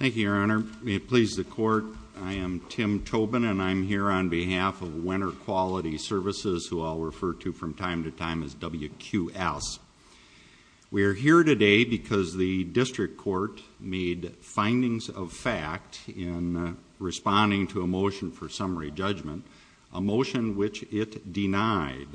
Thank you, Your Honor. May it please the Court, I am Tim Tobin and I'm here on behalf of Wenner Quality Services, who I'll refer to from time to time as WQS. We're here today because the District Court made findings of fact in responding to a motion for summary judgment, a motion which it denied.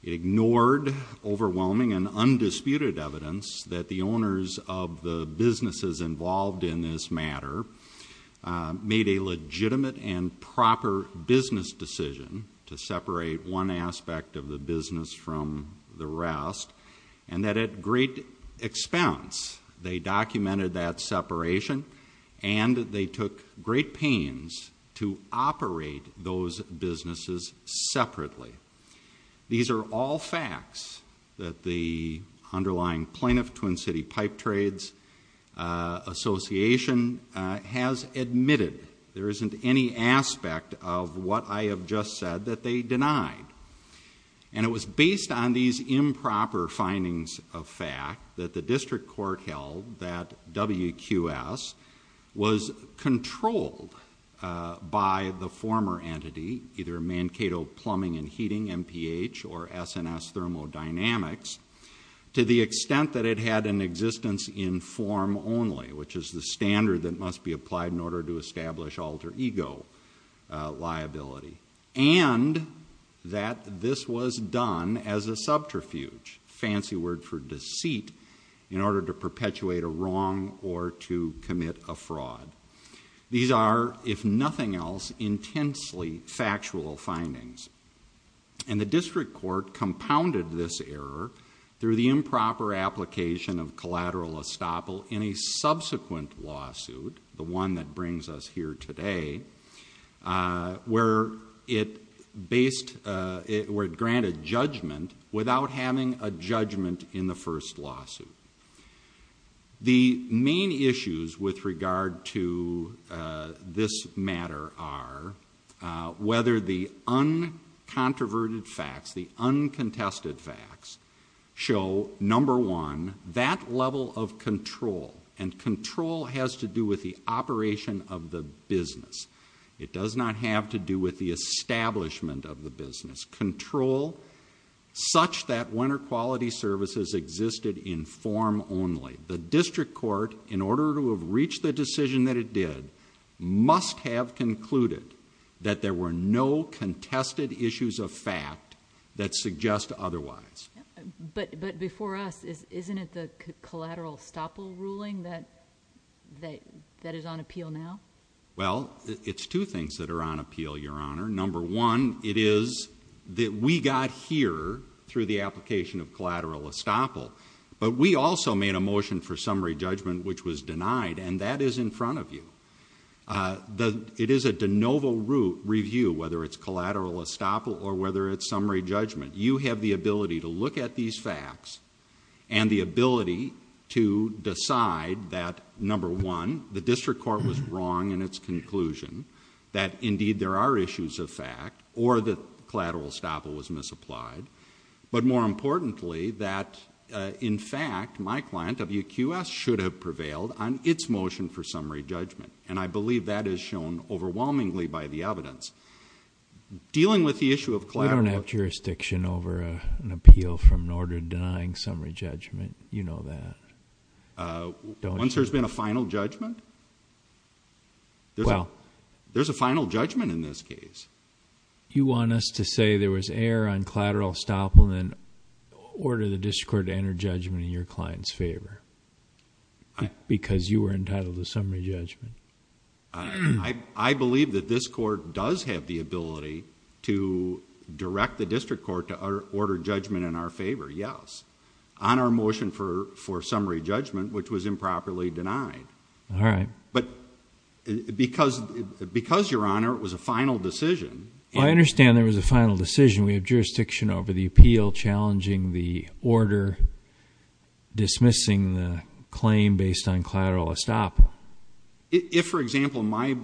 It ignored overwhelming and undisputed evidence that the owners of the businesses involved in this matter made a legitimate and proper business decision to separate one aspect of the business from the rest, and that at great expense they documented that separation and they took great pains to operate those businesses separately. These are all facts that the underlying Plaintiff Twin City Pipe Trades Association has admitted. There isn't any aspect of what I have just said that they denied. And it was based on these improper findings of fact that the District Court held that WQS was controlled by the former entity, either Mankato Plumbing and Heating, MPH, or S&S Thermodynamics, to the extent that it had an existence in form only, which is the standard that must be applied in order to establish alter ego liability. And that this was done as a subterfuge, fancy word for deceit, in order to perpetuate a wrong or to commit a fraud. These are, if nothing else, intensely factual findings. And the District Court compounded this error through the improper application of collateral estoppel in a subsequent lawsuit, the one that brings us here today, where it based, where it granted judgment without having a judgment in the first lawsuit. The main issues with regard to this matter are whether the uncontroverted facts, the uncontested facts, show, number one, that level of control, and control has to do with the operation of the business. It does not have to do with the establishment of the business. Control such that WQS existed in form only. The District Court, in order to have reached the decision that it did, must have concluded that there were no contested issues of fact that suggest otherwise. But before us, isn't it the collateral estoppel ruling that is on appeal now? Well, it's two things that are on appeal, Your Honor. Number one, it is that we got here through the application of collateral estoppel. But we also made a motion for summary judgment which was denied, and that is in front of you. It is a de novo review, whether it's collateral estoppel or whether it's summary judgment. You have the ability to look at these facts and the ability to decide that, number one, the District Court was wrong in its conclusion, that indeed there are issues of fact, or that collateral estoppel was misapplied. But more importantly, that in fact, my client, WQS, should have prevailed on its motion for dealing with the issue of collateral... We don't have jurisdiction over an appeal from an order denying summary judgment. You know that. Once there's been a final judgment? Well... There's a final judgment in this case. You want us to say there was error on collateral estoppel, then order the District Court to enter judgment in your client's favor because you were entitled to summary judgment. I believe that this court does have the ability to direct the District Court to order judgment in our favor, yes, on our motion for summary judgment which was improperly denied. But because, Your Honor, it was a final decision... Well, I understand there was a final decision. We have jurisdiction over the appeal challenging the order dismissing the claim based on collateral estoppel. If, for example, my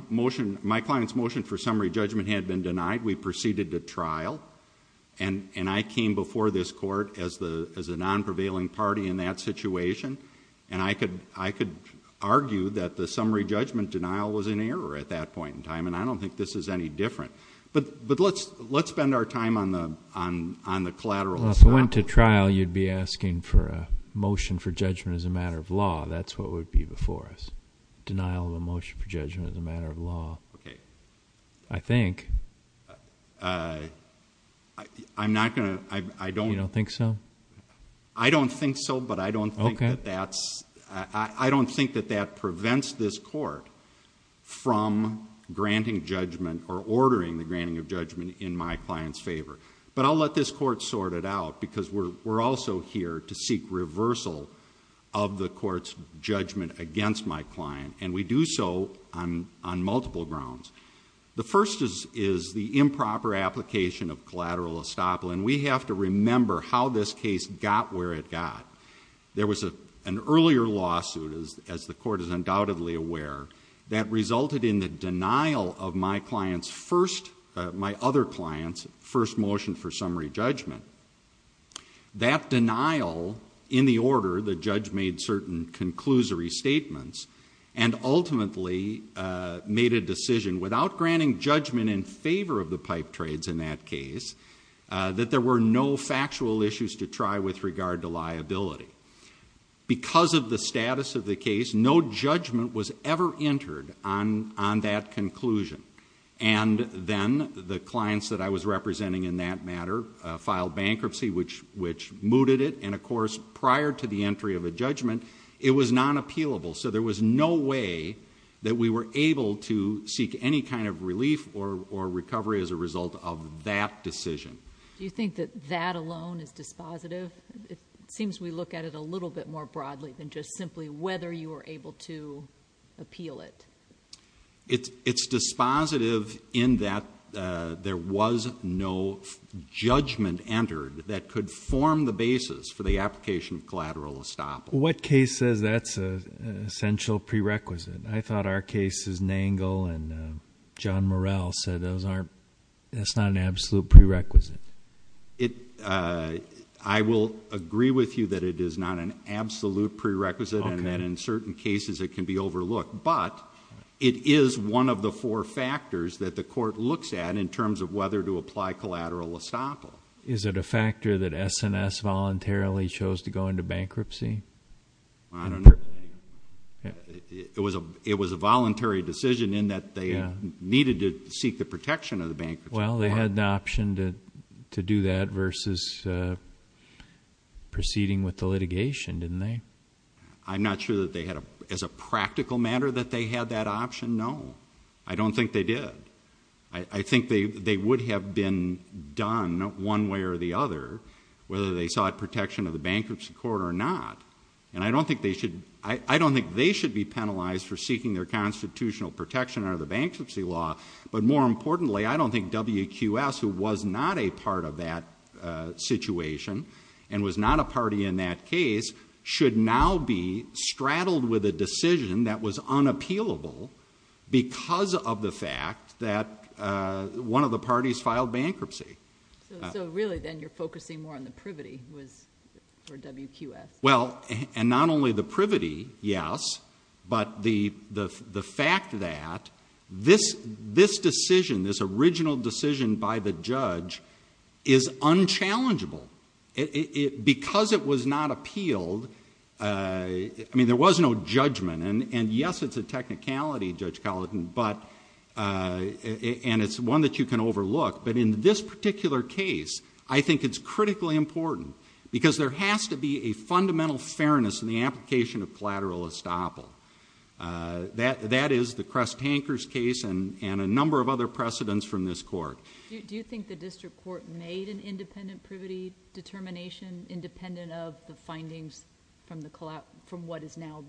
client's motion for summary judgment had been denied, we proceeded to trial and I came before this court as a non-prevailing party in that situation, and I could argue that the summary judgment denial was an error at that point in time, and I don't think this is any different. But let's spend our time on the collateral estoppel. Well, if it went to trial, you'd be asking for a motion for judgment as a matter of law. That's what would be before us, denial of a motion for judgment as a matter of law. I think... You don't think so? I don't think so, but I don't think that that prevents this court from granting judgment or ordering the granting of judgment in my client's favor. But I'll let this court sort it out because we're also here to seek reversal of the court's judgment against my client, and we do so on multiple grounds. The first is the improper application of collateral estoppel, and we have to remember how this case got where it got. There was an earlier lawsuit, as the court is undoubtedly aware, that resulted in the denial of my client's first... my other client's first motion for summary judgment. That denial, in the order the judge made certain conclusory statements, and ultimately made a decision without granting judgment in favor of the pipe trades in that case, that there were no factual issues to try with regard to liability. Because of the status of the case, no judgment was ever entered on that conclusion, and then the clients that I was representing in that matter filed bankruptcy, which mooted it, and of course, prior to the entry of a judgment, it was non-appealable. So there was no way that we were able to seek any kind of relief or recovery as a result of that decision. Do you think that that alone is dispositive? It seems we look at it a little bit more broadly than just simply whether you were able to appeal it. It's dispositive in that there was no judgment entered that could form the basis for the application of collateral estoppel. What case says that's an essential prerequisite? I thought our cases, Nangle and John Morrell, said that's not an absolute prerequisite. I will agree with you that it is not an absolute prerequisite, and that in certain cases it can be overlooked, but it is one of the four factors that the court looks at in terms of whether to apply collateral estoppel. Is it a factor that S&S voluntarily chose to go into bankruptcy? It was a voluntary decision in that they needed to seek the protection of the bankruptcy. Well, they had an option to do that versus proceeding with the litigation, didn't they? I'm not sure that they had, as a practical matter, that they had that option, no. I don't think they did. I think they would have been done one way or the other, whether they sought protection of the bankruptcy court or not, and I don't think they should be penalized for seeking their constitutional protection under the bankruptcy law, but more importantly, I don't think WQS, who was not a part of that situation and was not a party in that case, should now be straddled with a decision that was unappealable because of the fact that one of the parties filed bankruptcy. So really, then, you're focusing more on the privity for WQS? Well, and not only the privity, yes, but the fact that this decision, this original decision by the judge, is unchallengeable. Because it was not appealed... I mean, there was no judgment, and yes, it's a technicality, Judge Colleton, and it's one that you can overlook, but in this particular case, I think it's critically important because there has to be a fundamental fairness in the application of collateral estoppel. That is the Crest-Hankers case and a number of other precedents from this court. Do you think the district court made an independent privity determination independent of the findings from what is now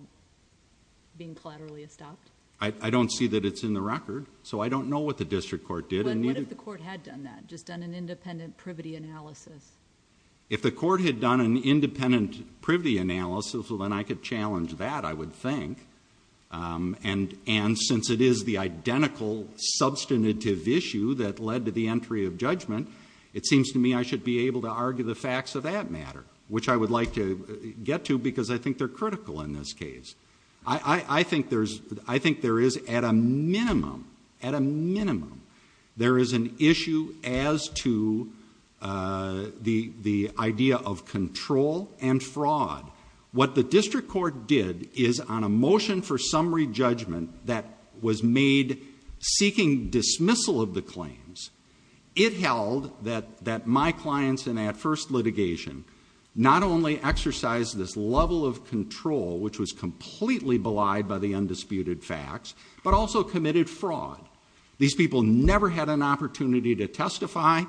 being collaterally estopped? I don't see that it's in the record, so I don't know what the district court did. But what if the court had done that, just done an independent privity analysis? If the court had done an independent privity analysis, well, then I could challenge that, I would think, and since it is the identical substantive issue that led to the entry of judgment, it seems to me I should be able to argue the facts of that matter, which I would like to get to because I think they're critical in this case. I think there is, at a minimum, at a minimum, there is an issue as to the idea of control and fraud. What the district court did is on a motion for summary judgment that was made seeking dismissal of the claims, it held that my clients in that first litigation not only exercised this level of control, which was completely belied by the undisputed facts, but also committed fraud. These people never had an opportunity to testify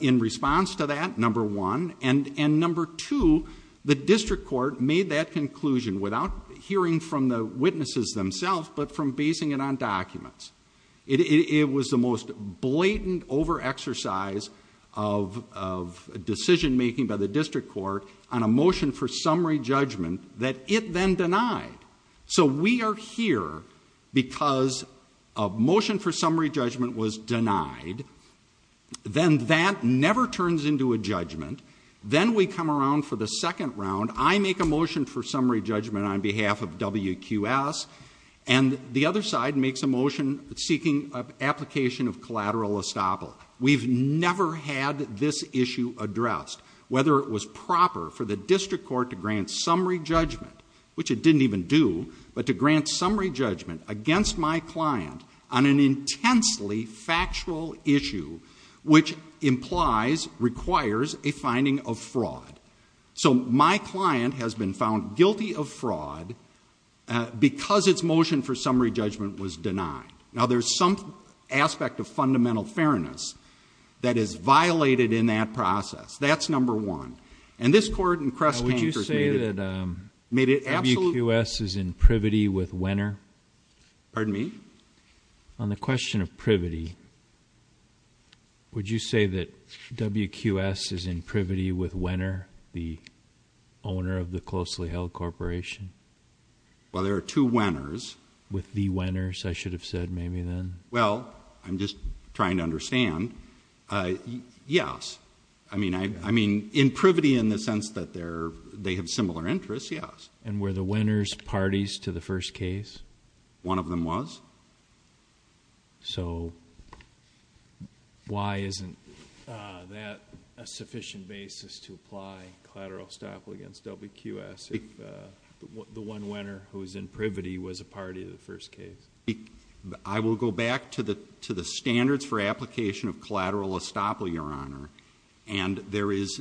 in response to that, number one, and number two, the district court made that conclusion without hearing from the witnesses themselves, but from basing it on documents. It was the most blatant overexercise of decision making by the district court on a motion for summary judgment that it then denied. So we are here because a motion for summary judgment was denied, then that never turns into a judgment, then we come around for the second round, I make a motion for summary judgment on behalf of WQS, and the other side makes a motion seeking application of collateral estoppel. We've never had this issue addressed, whether it was proper for the district court to grant summary judgment, which it didn't even do, but to grant summary judgment against my client on an intensely factual issue, which implies, requires a finding of fraud. So my client has been found guilty of fraud because its motion for summary judgment was denied. Now there's some aspect of fundamental fairness that is violated in that process. That's number one. And this court in Cresthanker made it absolutely clear. Would you say that WQS is in privity with Wenner? Pardon me? On the question of privity, would you say that WQS is in privity with Wenner, the owner of the closely held corporation? Well, there are two Wenners. With the Wenners, I should have said, maybe then? Well, I'm just trying to understand. Yes. I mean, in privity in the sense that they have similar interests, yes. And were the Wenners parties to the first case? One of them was. So why isn't that a sufficient basis to apply collateral estoppel against WQS if the one party to the first case? I will go back to the standards for application of collateral estoppel, Your Honor. And there is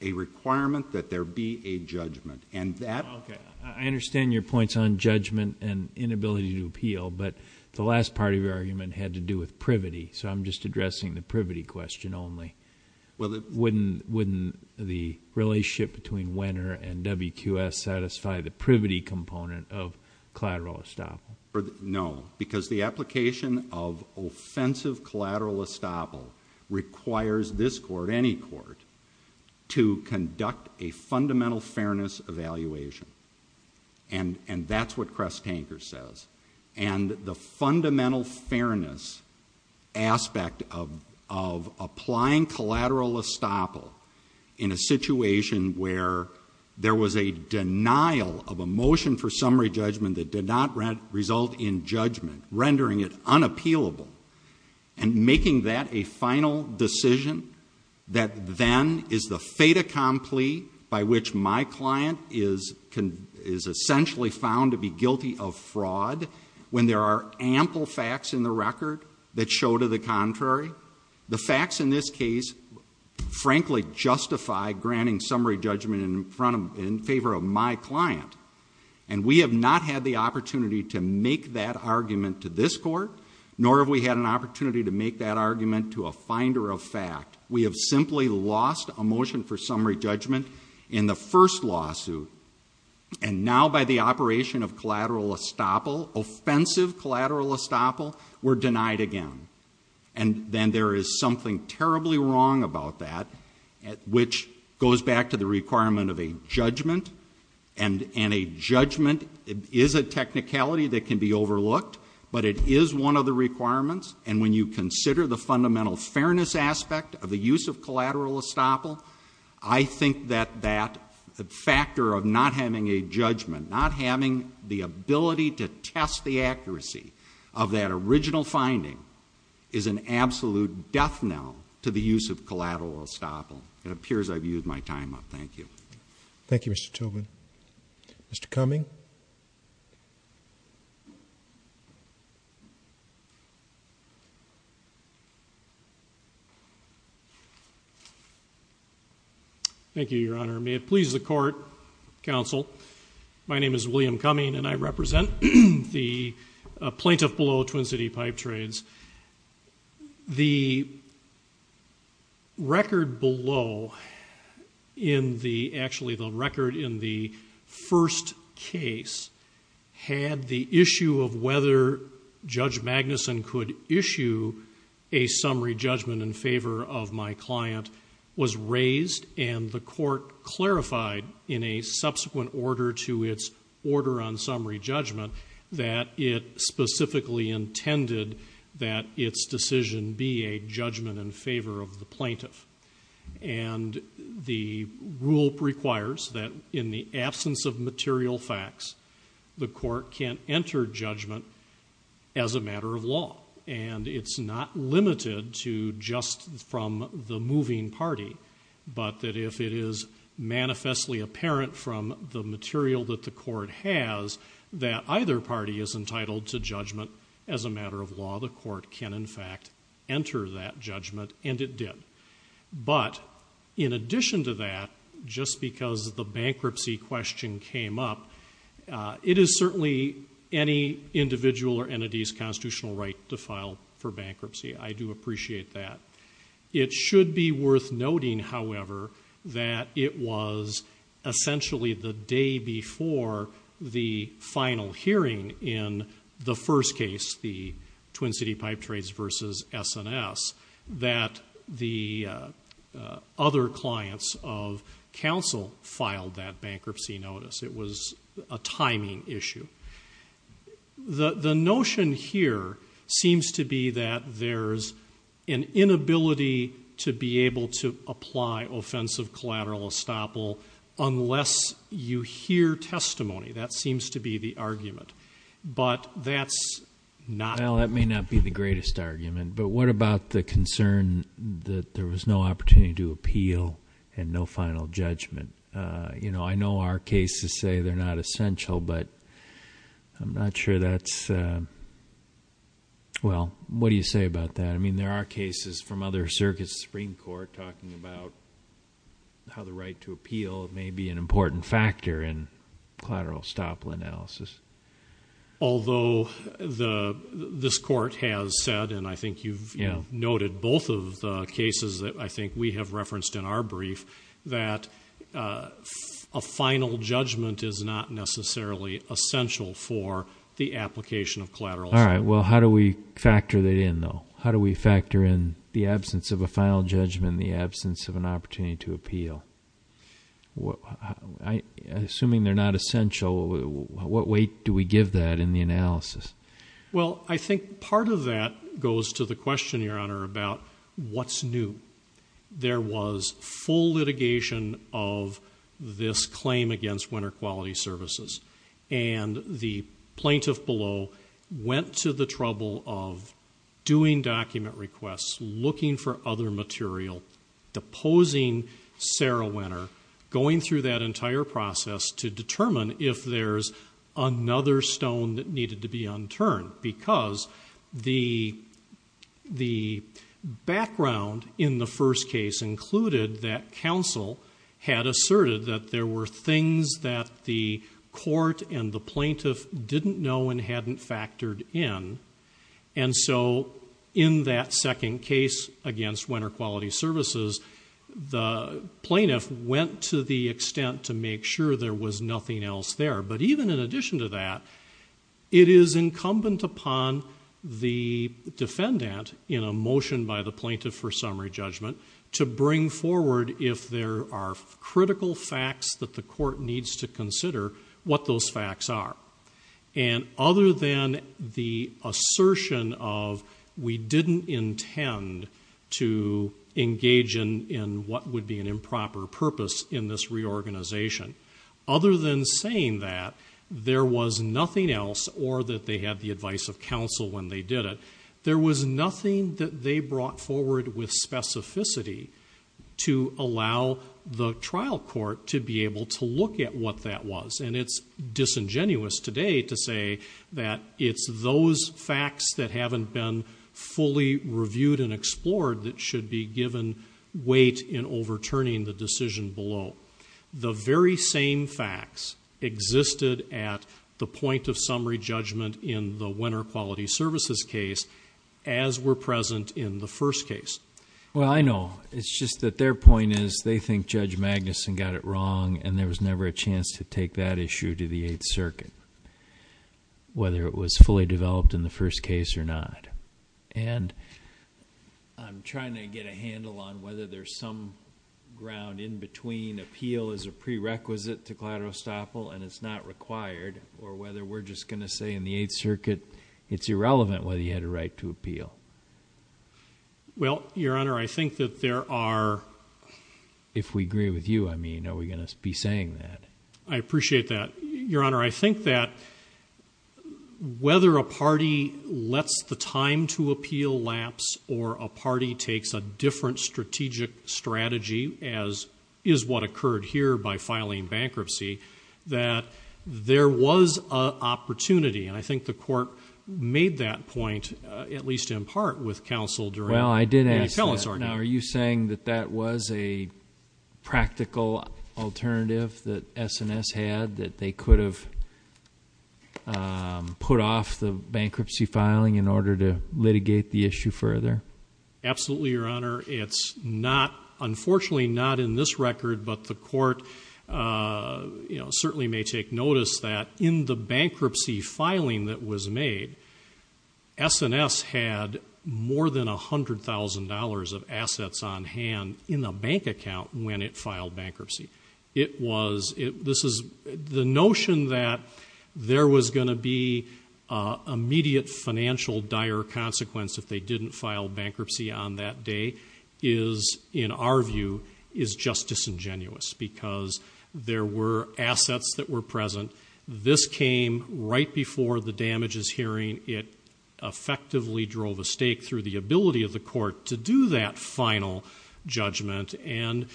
a requirement that there be a judgment. And that... Okay. I understand your points on judgment and inability to appeal. But the last part of your argument had to do with privity. So I'm just addressing the privity question only. Well, wouldn't the relationship between Wenner and WQS satisfy the privity component of collateral estoppel? No, because the application of offensive collateral estoppel requires this court, any court, to conduct a fundamental fairness evaluation. And that's what Kress Tanker says. And the fundamental fairness aspect of applying collateral estoppel in a situation where there was a denial of a motion for summary judgment that did not result in judgment, rendering it unappealable, and making that a final decision that then is the fait accompli by which my when there are ample facts in the record that show to the contrary. The facts in this case, frankly, justify granting summary judgment in favor of my client. And we have not had the opportunity to make that argument to this court, nor have we had an opportunity to make that argument to a finder of fact. We have simply lost a motion for summary judgment in the first lawsuit. And now by the operation of collateral estoppel, offensive collateral estoppel, we're denied again. And then there is something terribly wrong about that, which goes back to the requirement of a judgment. And a judgment is a technicality that can be overlooked, but it is one of the requirements. And when you consider the fundamental fairness aspect of the use of collateral estoppel, I think that that factor of not having a judgment, not having the ability to test the accuracy of that original finding, is an absolute death knell to the use of collateral estoppel. It appears I've used my time up. Thank you. Thank you, Mr. Tobin. Mr. Cumming? Thank you, Your Honor. May it please the court, counsel, my name is William Cumming and I represent the plaintiff below Twin City Pipe Trades. The record below in the, actually the record in the first case had the issue of whether Judge Magnuson could issue a summary judgment in favor of my client was raised and the court clarified in a subsequent order to its order on summary judgment that it specifically intended that its decision be a judgment in favor of the plaintiff. And the rule requires that in the absence of material facts, the court can enter judgment as a matter of law. And it's not limited to just from the moving party, but that if it is manifestly apparent from the material that the court has, that either party is entitled to judgment as a matter of law, the court can in fact enter that judgment and it did. But in addition to that, just because the bankruptcy question came up, it is certainly any individual or entity's constitutional right to file for bankruptcy. I do appreciate that. It should be worth noting, however, that it was essentially the day before the final hearing in the first case, the Twin City Pipe Trades versus S&S, that the other clients of counsel filed that bankruptcy notice. It was a timing issue. The notion here seems to be that there's an inability to be able to apply offensive collateral estoppel unless you hear testimony. That seems to be the argument. But that's not. Well, that may not be the greatest argument, but what about the concern that there was no opportunity to appeal and no final judgment? You know, I know our cases say they're not essential, but I'm not sure that's, well, what do you say about that? I mean, there are cases from other circuits of the Supreme Court talking about how the right to appeal may be an important factor in collateral estoppel analysis. Although this court has said, and I think you've noted both of the cases that I think we have referenced in our brief, that a final judgment is not necessarily essential for the application of collateral estoppel. All right. Well, how do we factor that in, though? How do we factor in the absence of a final judgment, the absence of an opportunity to appeal? Assuming they're not essential, what weight do we give that in the analysis? Well, I think part of that goes to the question, Your Honor, about what's new. There was full litigation of this claim against Winter Quality Services, and the plaintiff below went to the trouble of doing document requests, looking for other material, deposing Sarah Winter, going through that entire process to determine if there's another stone that needed to be unturned, because the background in the first case included that counsel had and hadn't factored in. And so in that second case against Winter Quality Services, the plaintiff went to the extent to make sure there was nothing else there. But even in addition to that, it is incumbent upon the defendant in a motion by the plaintiff for summary judgment to bring forward, if there are critical facts that the court needs to consider, what those facts are. And other than the assertion of we didn't intend to engage in what would be an improper purpose in this reorganization, other than saying that there was nothing else, or that they had the advice of counsel when they did it, there was nothing that they brought forward with specificity to allow the trial court to be able to look at what that was. And it's disingenuous today to say that it's those facts that haven't been fully reviewed and explored that should be given weight in overturning the decision below. The very same facts existed at the point of summary judgment in the Winter Quality Services case as were present in the first case. Well, I know. It's just that their point is they think Judge Magnuson got it wrong, and there was never a chance to take that issue to the Eighth Circuit, whether it was fully developed in the first case or not. And I'm trying to get a handle on whether there's some ground in between appeal is a prerequisite to collateral estoppel and it's not required, or whether we're just going to say in the Eighth Circuit it's irrelevant whether you had a right to appeal. Well, Your Honor, I think that there are... I appreciate that. Your Honor, I think that whether a party lets the time to appeal lapse or a party takes a different strategic strategy, as is what occurred here by filing bankruptcy, that there was an opportunity, and I think the court made that point, at least in part, with counsel during... that they could have put off the bankruptcy filing in order to litigate the issue further? Absolutely, Your Honor. It's not... unfortunately, not in this record, but the court certainly may take notice that in the bankruptcy filing that was made, S&S had more than $100,000 of assets on hand in the bank account when it filed bankruptcy. It was... this is... the notion that there was going to be immediate financial dire consequence if they didn't file bankruptcy on that day is, in our view, is just disingenuous because there were assets that were present. This came right before the damages hearing. It effectively drove a stake through the ability of the court to do that final judgment and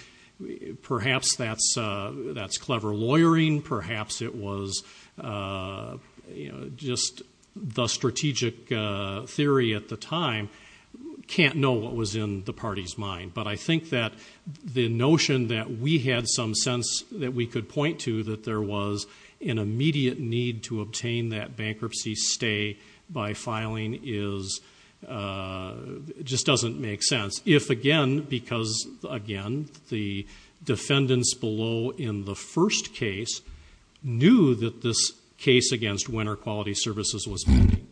perhaps that's clever lawyering. Perhaps it was just the strategic theory at the time. Can't know what was in the party's mind, but I think that the notion that we had some sense that we could point to that there was an immediate need to obtain that bankruptcy stay by filing is... it just doesn't make sense. If again, because again, the defendants below in the first case knew that this case against Winter Quality Services was pending.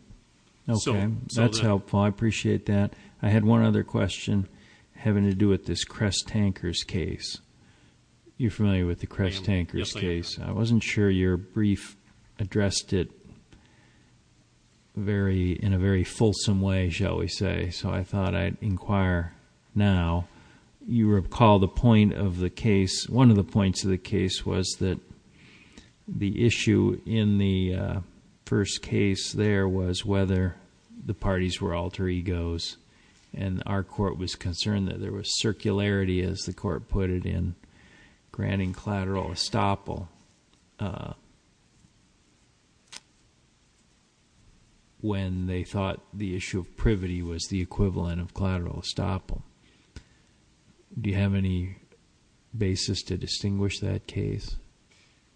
Okay, that's helpful, I appreciate that. I had one other question having to do with this Kress Tankers case. You're familiar with the Kress Tankers case? I wasn't sure your brief addressed it in a very fulsome way, shall we say, so I thought I'd inquire now. You recall the point of the case, one of the points of the case was that the issue in the first case there was whether the parties were alter egos and our court was concerned that there was circularity, as the court put it, in granting collateral estoppel when they thought the issue of privity was the equivalent of collateral estoppel. Do you have any basis to distinguish that case?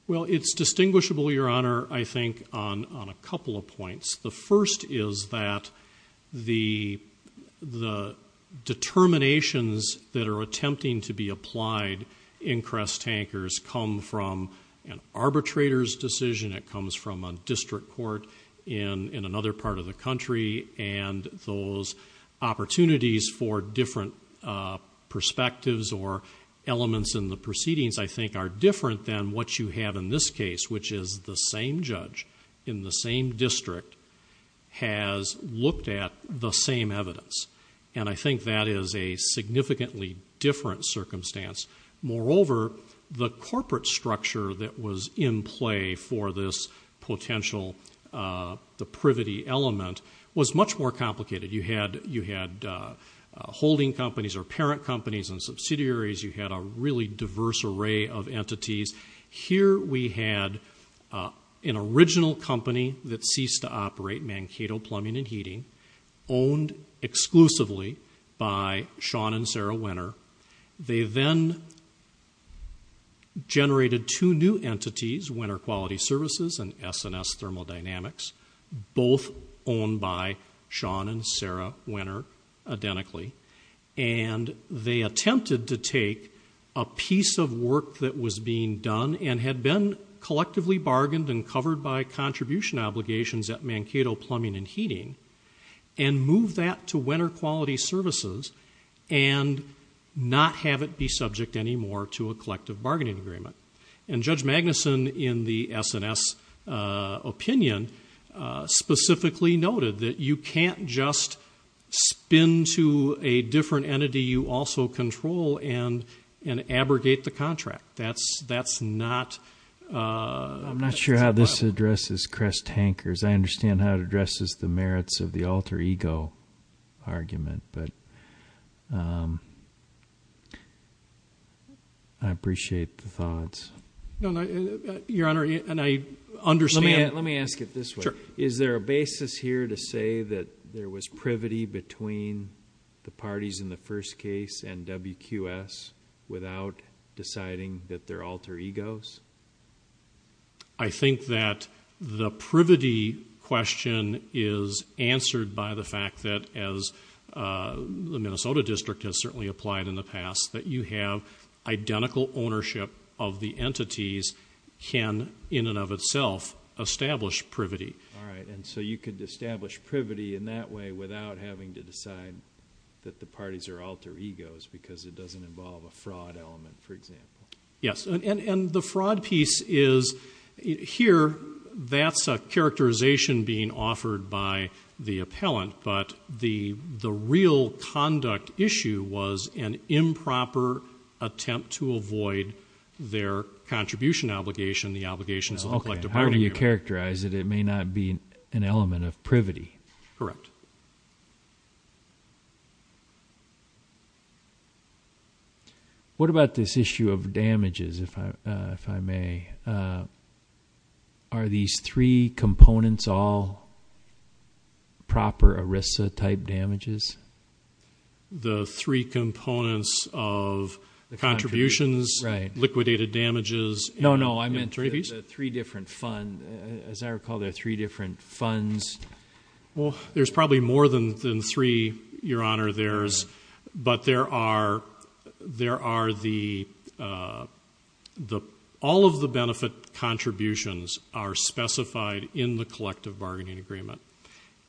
Well, it's distinguishable, your honor, I think on a couple of points. The first is that the determinations that are attempting to be applied in Kress Tankers come from an arbitrator's decision, it comes from a district court in another part of the country and those opportunities for different perspectives or elements in the proceedings I think are different than what you have in this case, which is the same judge in the same district has looked at the same evidence. And I think that is a significantly different circumstance. Moreover, the corporate structure that was in play for this potential, the privity element was much more complicated. You had holding companies or parent companies and subsidiaries, you had a really diverse array of entities. Here we had an original company that ceased to operate, Mankato Plumbing and Heating, owned exclusively by Sean and Sarah Winner. They then generated two new entities, Winner Quality Services and S&S Thermodynamics, both owned by Sean and Sarah Winner, identically, and they attempted to take a piece of work that was being done and had been collectively bargained and covered by contribution obligations at Mankato Plumbing and Heating and move that to Winner Quality Services and not have it be subject anymore to a collective bargaining agreement. And Judge Magnuson in the S&S opinion specifically noted that you can't just spin to a different contract. That's not... I'm not sure how this addresses Crest-Hankers. I understand how it addresses the merits of the alter-ego argument, but I appreciate the thoughts. No, Your Honor, and I understand... Let me ask it this way. Is there a basis here to say that there was privity between the parties in the first case and WQS without deciding that they're alter-egos? I think that the privity question is answered by the fact that, as the Minnesota District has certainly applied in the past, that you have identical ownership of the entities can, in and of itself, establish privity. All right. And so you could establish privity in that way without having to decide that the parties are alter-egos because it doesn't involve a fraud element, for example. Yes. And the fraud piece is, here, that's a characterization being offered by the appellant, but the real conduct issue was an improper attempt to avoid their contribution obligation, the obligations of a collective bargaining agreement. Okay. How do you characterize it? It may not be an element of privity. Correct. What about this issue of damages, if I may? Are these three components all proper ERISA-type damages? The three components of contributions, liquidated damages, and entreaties? No, no. I meant the three different fund. As I recall, there are three different funds. Well, there's probably more than three, Your Honor. But all of the benefit contributions are specified in the collective bargaining agreement.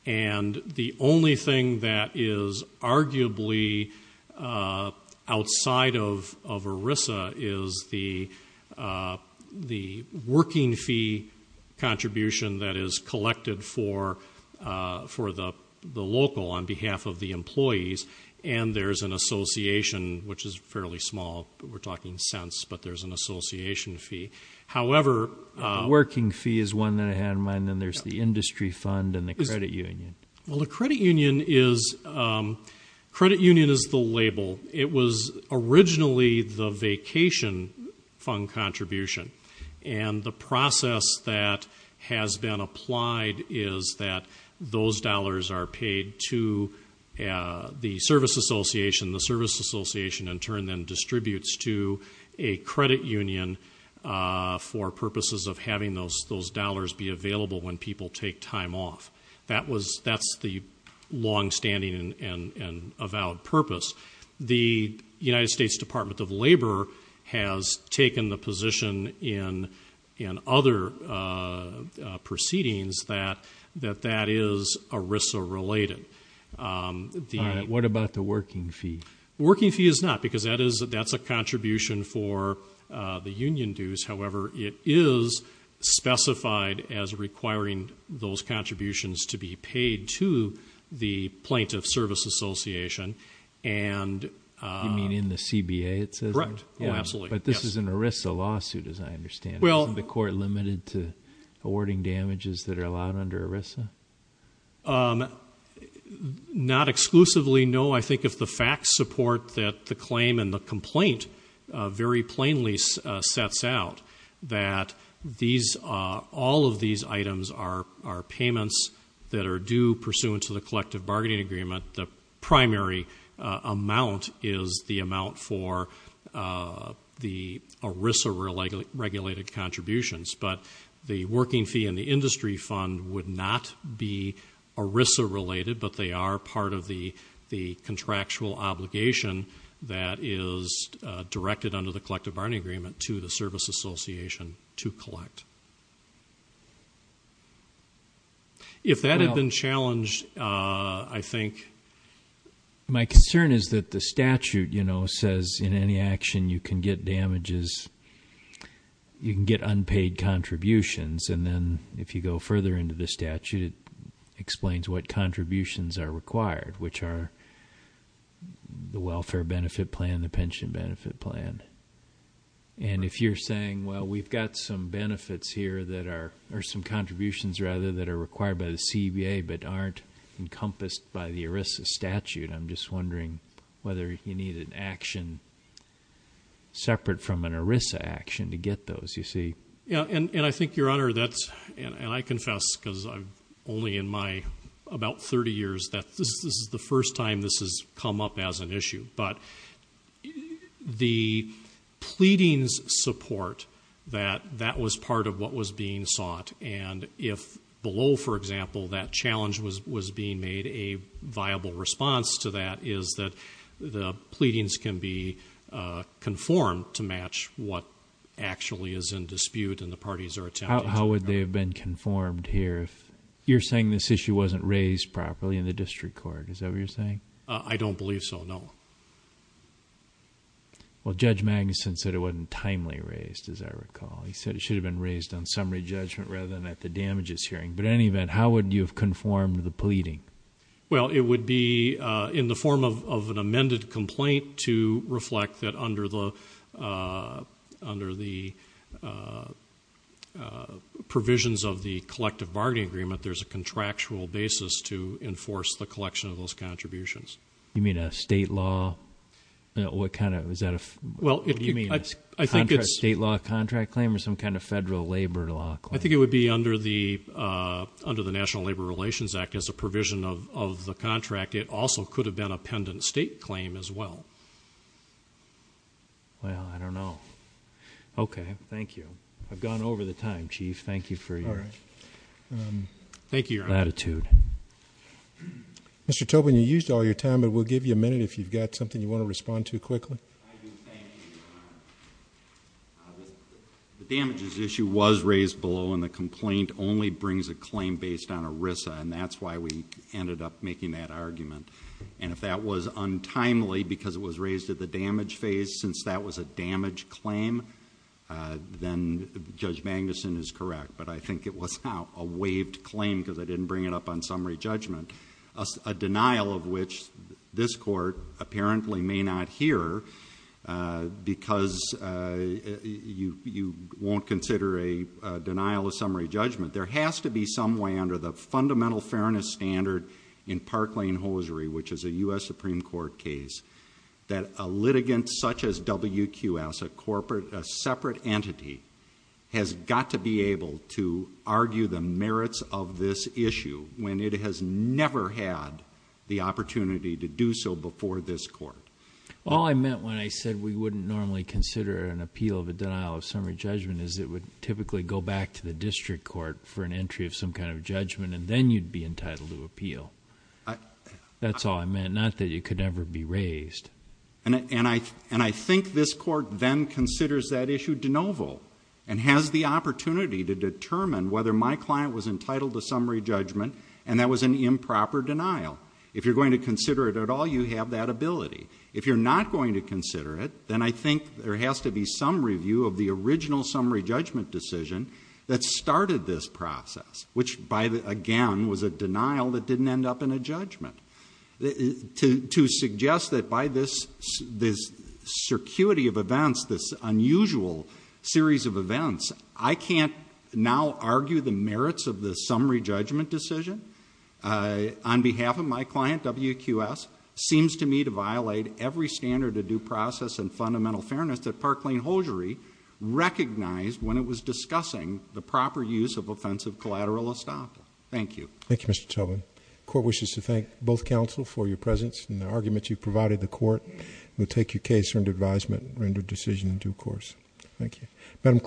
And the only thing that is arguably outside of ERISA is the working fee contribution that is collected for the local on behalf of the employees, and there's an association, which is fairly small. We're talking cents, but there's an association fee. However... The working fee is one that I had in mind, and there's the industry fund and the credit union. Well, the credit union is the label. It was originally the vacation fund contribution, and the process that has been applied is that those dollars are paid to the service association. The service association, in turn, then distributes to a credit union for purposes of having those dollars be available when people take time off. That's the longstanding and avowed purpose. The United States Department of Labor has taken the position in other proceedings that that is ERISA related. What about the working fee? Working fee is not, because that's a contribution for the union dues. However, it is specified as requiring those contributions to be paid to the plaintiff service association. You mean in the CBA it says that? Right. Oh, absolutely. But this is an ERISA lawsuit, as I understand it. Well... Isn't the court limited to awarding damages that are allowed under ERISA? Not exclusively, no. I think if the facts support that the claim and the complaint very plainly sets out that all of these items are payments that are due pursuant to the collective bargaining agreement, the primary amount is the amount for the ERISA regulated contributions. But the working fee and the industry fund would not be ERISA related, but they are part of the contractual obligation that is directed under the collective bargaining agreement to the service association to collect. If that had been challenged, I think... My concern is that the statute, you know, says in any action you can get damages, you can get unpaid contributions, and then if you go further into the statute, it explains what contributions are required, which are the welfare benefit plan, the pension benefit plan. And if you're saying, well, we've got some benefits here that are, or some contributions rather that are required by the CBA but aren't encompassed by the ERISA statute, I'm just wondering whether you need an action separate from an ERISA action to get those, you see. And I think, Your Honor, that's, and I confess because I'm only in my about 30 years that this is the first time this has come up as an issue, but the pleadings support that that was part of what was being sought, and if below, for example, that challenge was being made, a viable response to that is that the pleadings can be conformed to match what actually is in dispute and the parties are attempting to. How would they have been conformed here if, you're saying this issue wasn't raised properly in the district court, is that what you're saying? I don't believe so, no. Well, Judge Magnuson said it wasn't timely raised, as I recall. He said it should have been raised on summary judgment rather than at the damages hearing, but in any event, how would you have conformed the pleading? Well, it would be in the form of an amended complaint to reflect that under the provisions of the collective bargaining agreement, there's a contractual basis to enforce the collection of those contributions. You mean a state law? What kind of, is that a, what do you mean, a state law contract claim or some kind of federal labor law claim? I think it would be under the National Labor Relations Act as a provision of the contract. It also could have been a pendant state claim as well. Well, I don't know. Okay. Thank you. I've gone over the time, Chief. Thank you for your latitude. All right. Thank you, Your Honor. Mr. Tobin, you used all your time, but we'll give you a minute if you've got something you want to respond to quickly. I do thank you, Your Honor. The damages issue was raised below, and the complaint only brings a claim based on ERISA, and that's why we ended up making that argument, and if that was untimely because it was raised at the damage phase, since that was a damage claim, then Judge Magnuson is correct, but I think it was a waived claim because I didn't bring it up on summary judgment, a denial of which this court apparently may not hear because you won't consider a denial of summary judgment. There has to be some way under the fundamental fairness standard in Parklane-Hosiery, which is a U.S. Supreme Court case, that a litigant such as WQS, a separate entity, has got to be able to argue the merits of this issue when it has never had the opportunity to do so before this court. All I meant when I said we wouldn't normally consider an appeal of a denial of summary judgment is it would typically go back to the district court for an entry of some kind of judgment, and then you'd be entitled to appeal. That's all I meant. Not that it could never be raised. And I think this court then considers that issue de novo and has the opportunity to determine whether my client was entitled to summary judgment and that was an improper denial. If you're going to consider it at all, you have that ability. If you're not going to consider it, then I think there has to be some review of the original summary judgment decision that started this process, which again was a denial that didn't end up in a judgment. To suggest that by this circuity of events, this unusual series of events, I can't now argue the merits of the summary judgment decision on behalf of my client, WQS, seems to me to violate every standard of due process and fundamental fairness that Parklane-Hosiery recognized when it was discussing the proper use of offensive collateral estoppel. Thank you. Thank you, Mr. Tobin. The court wishes to thank both counsel for your presence and the argument you provided the court. We'll take your case under advisement and render a decision in due course. Thank you.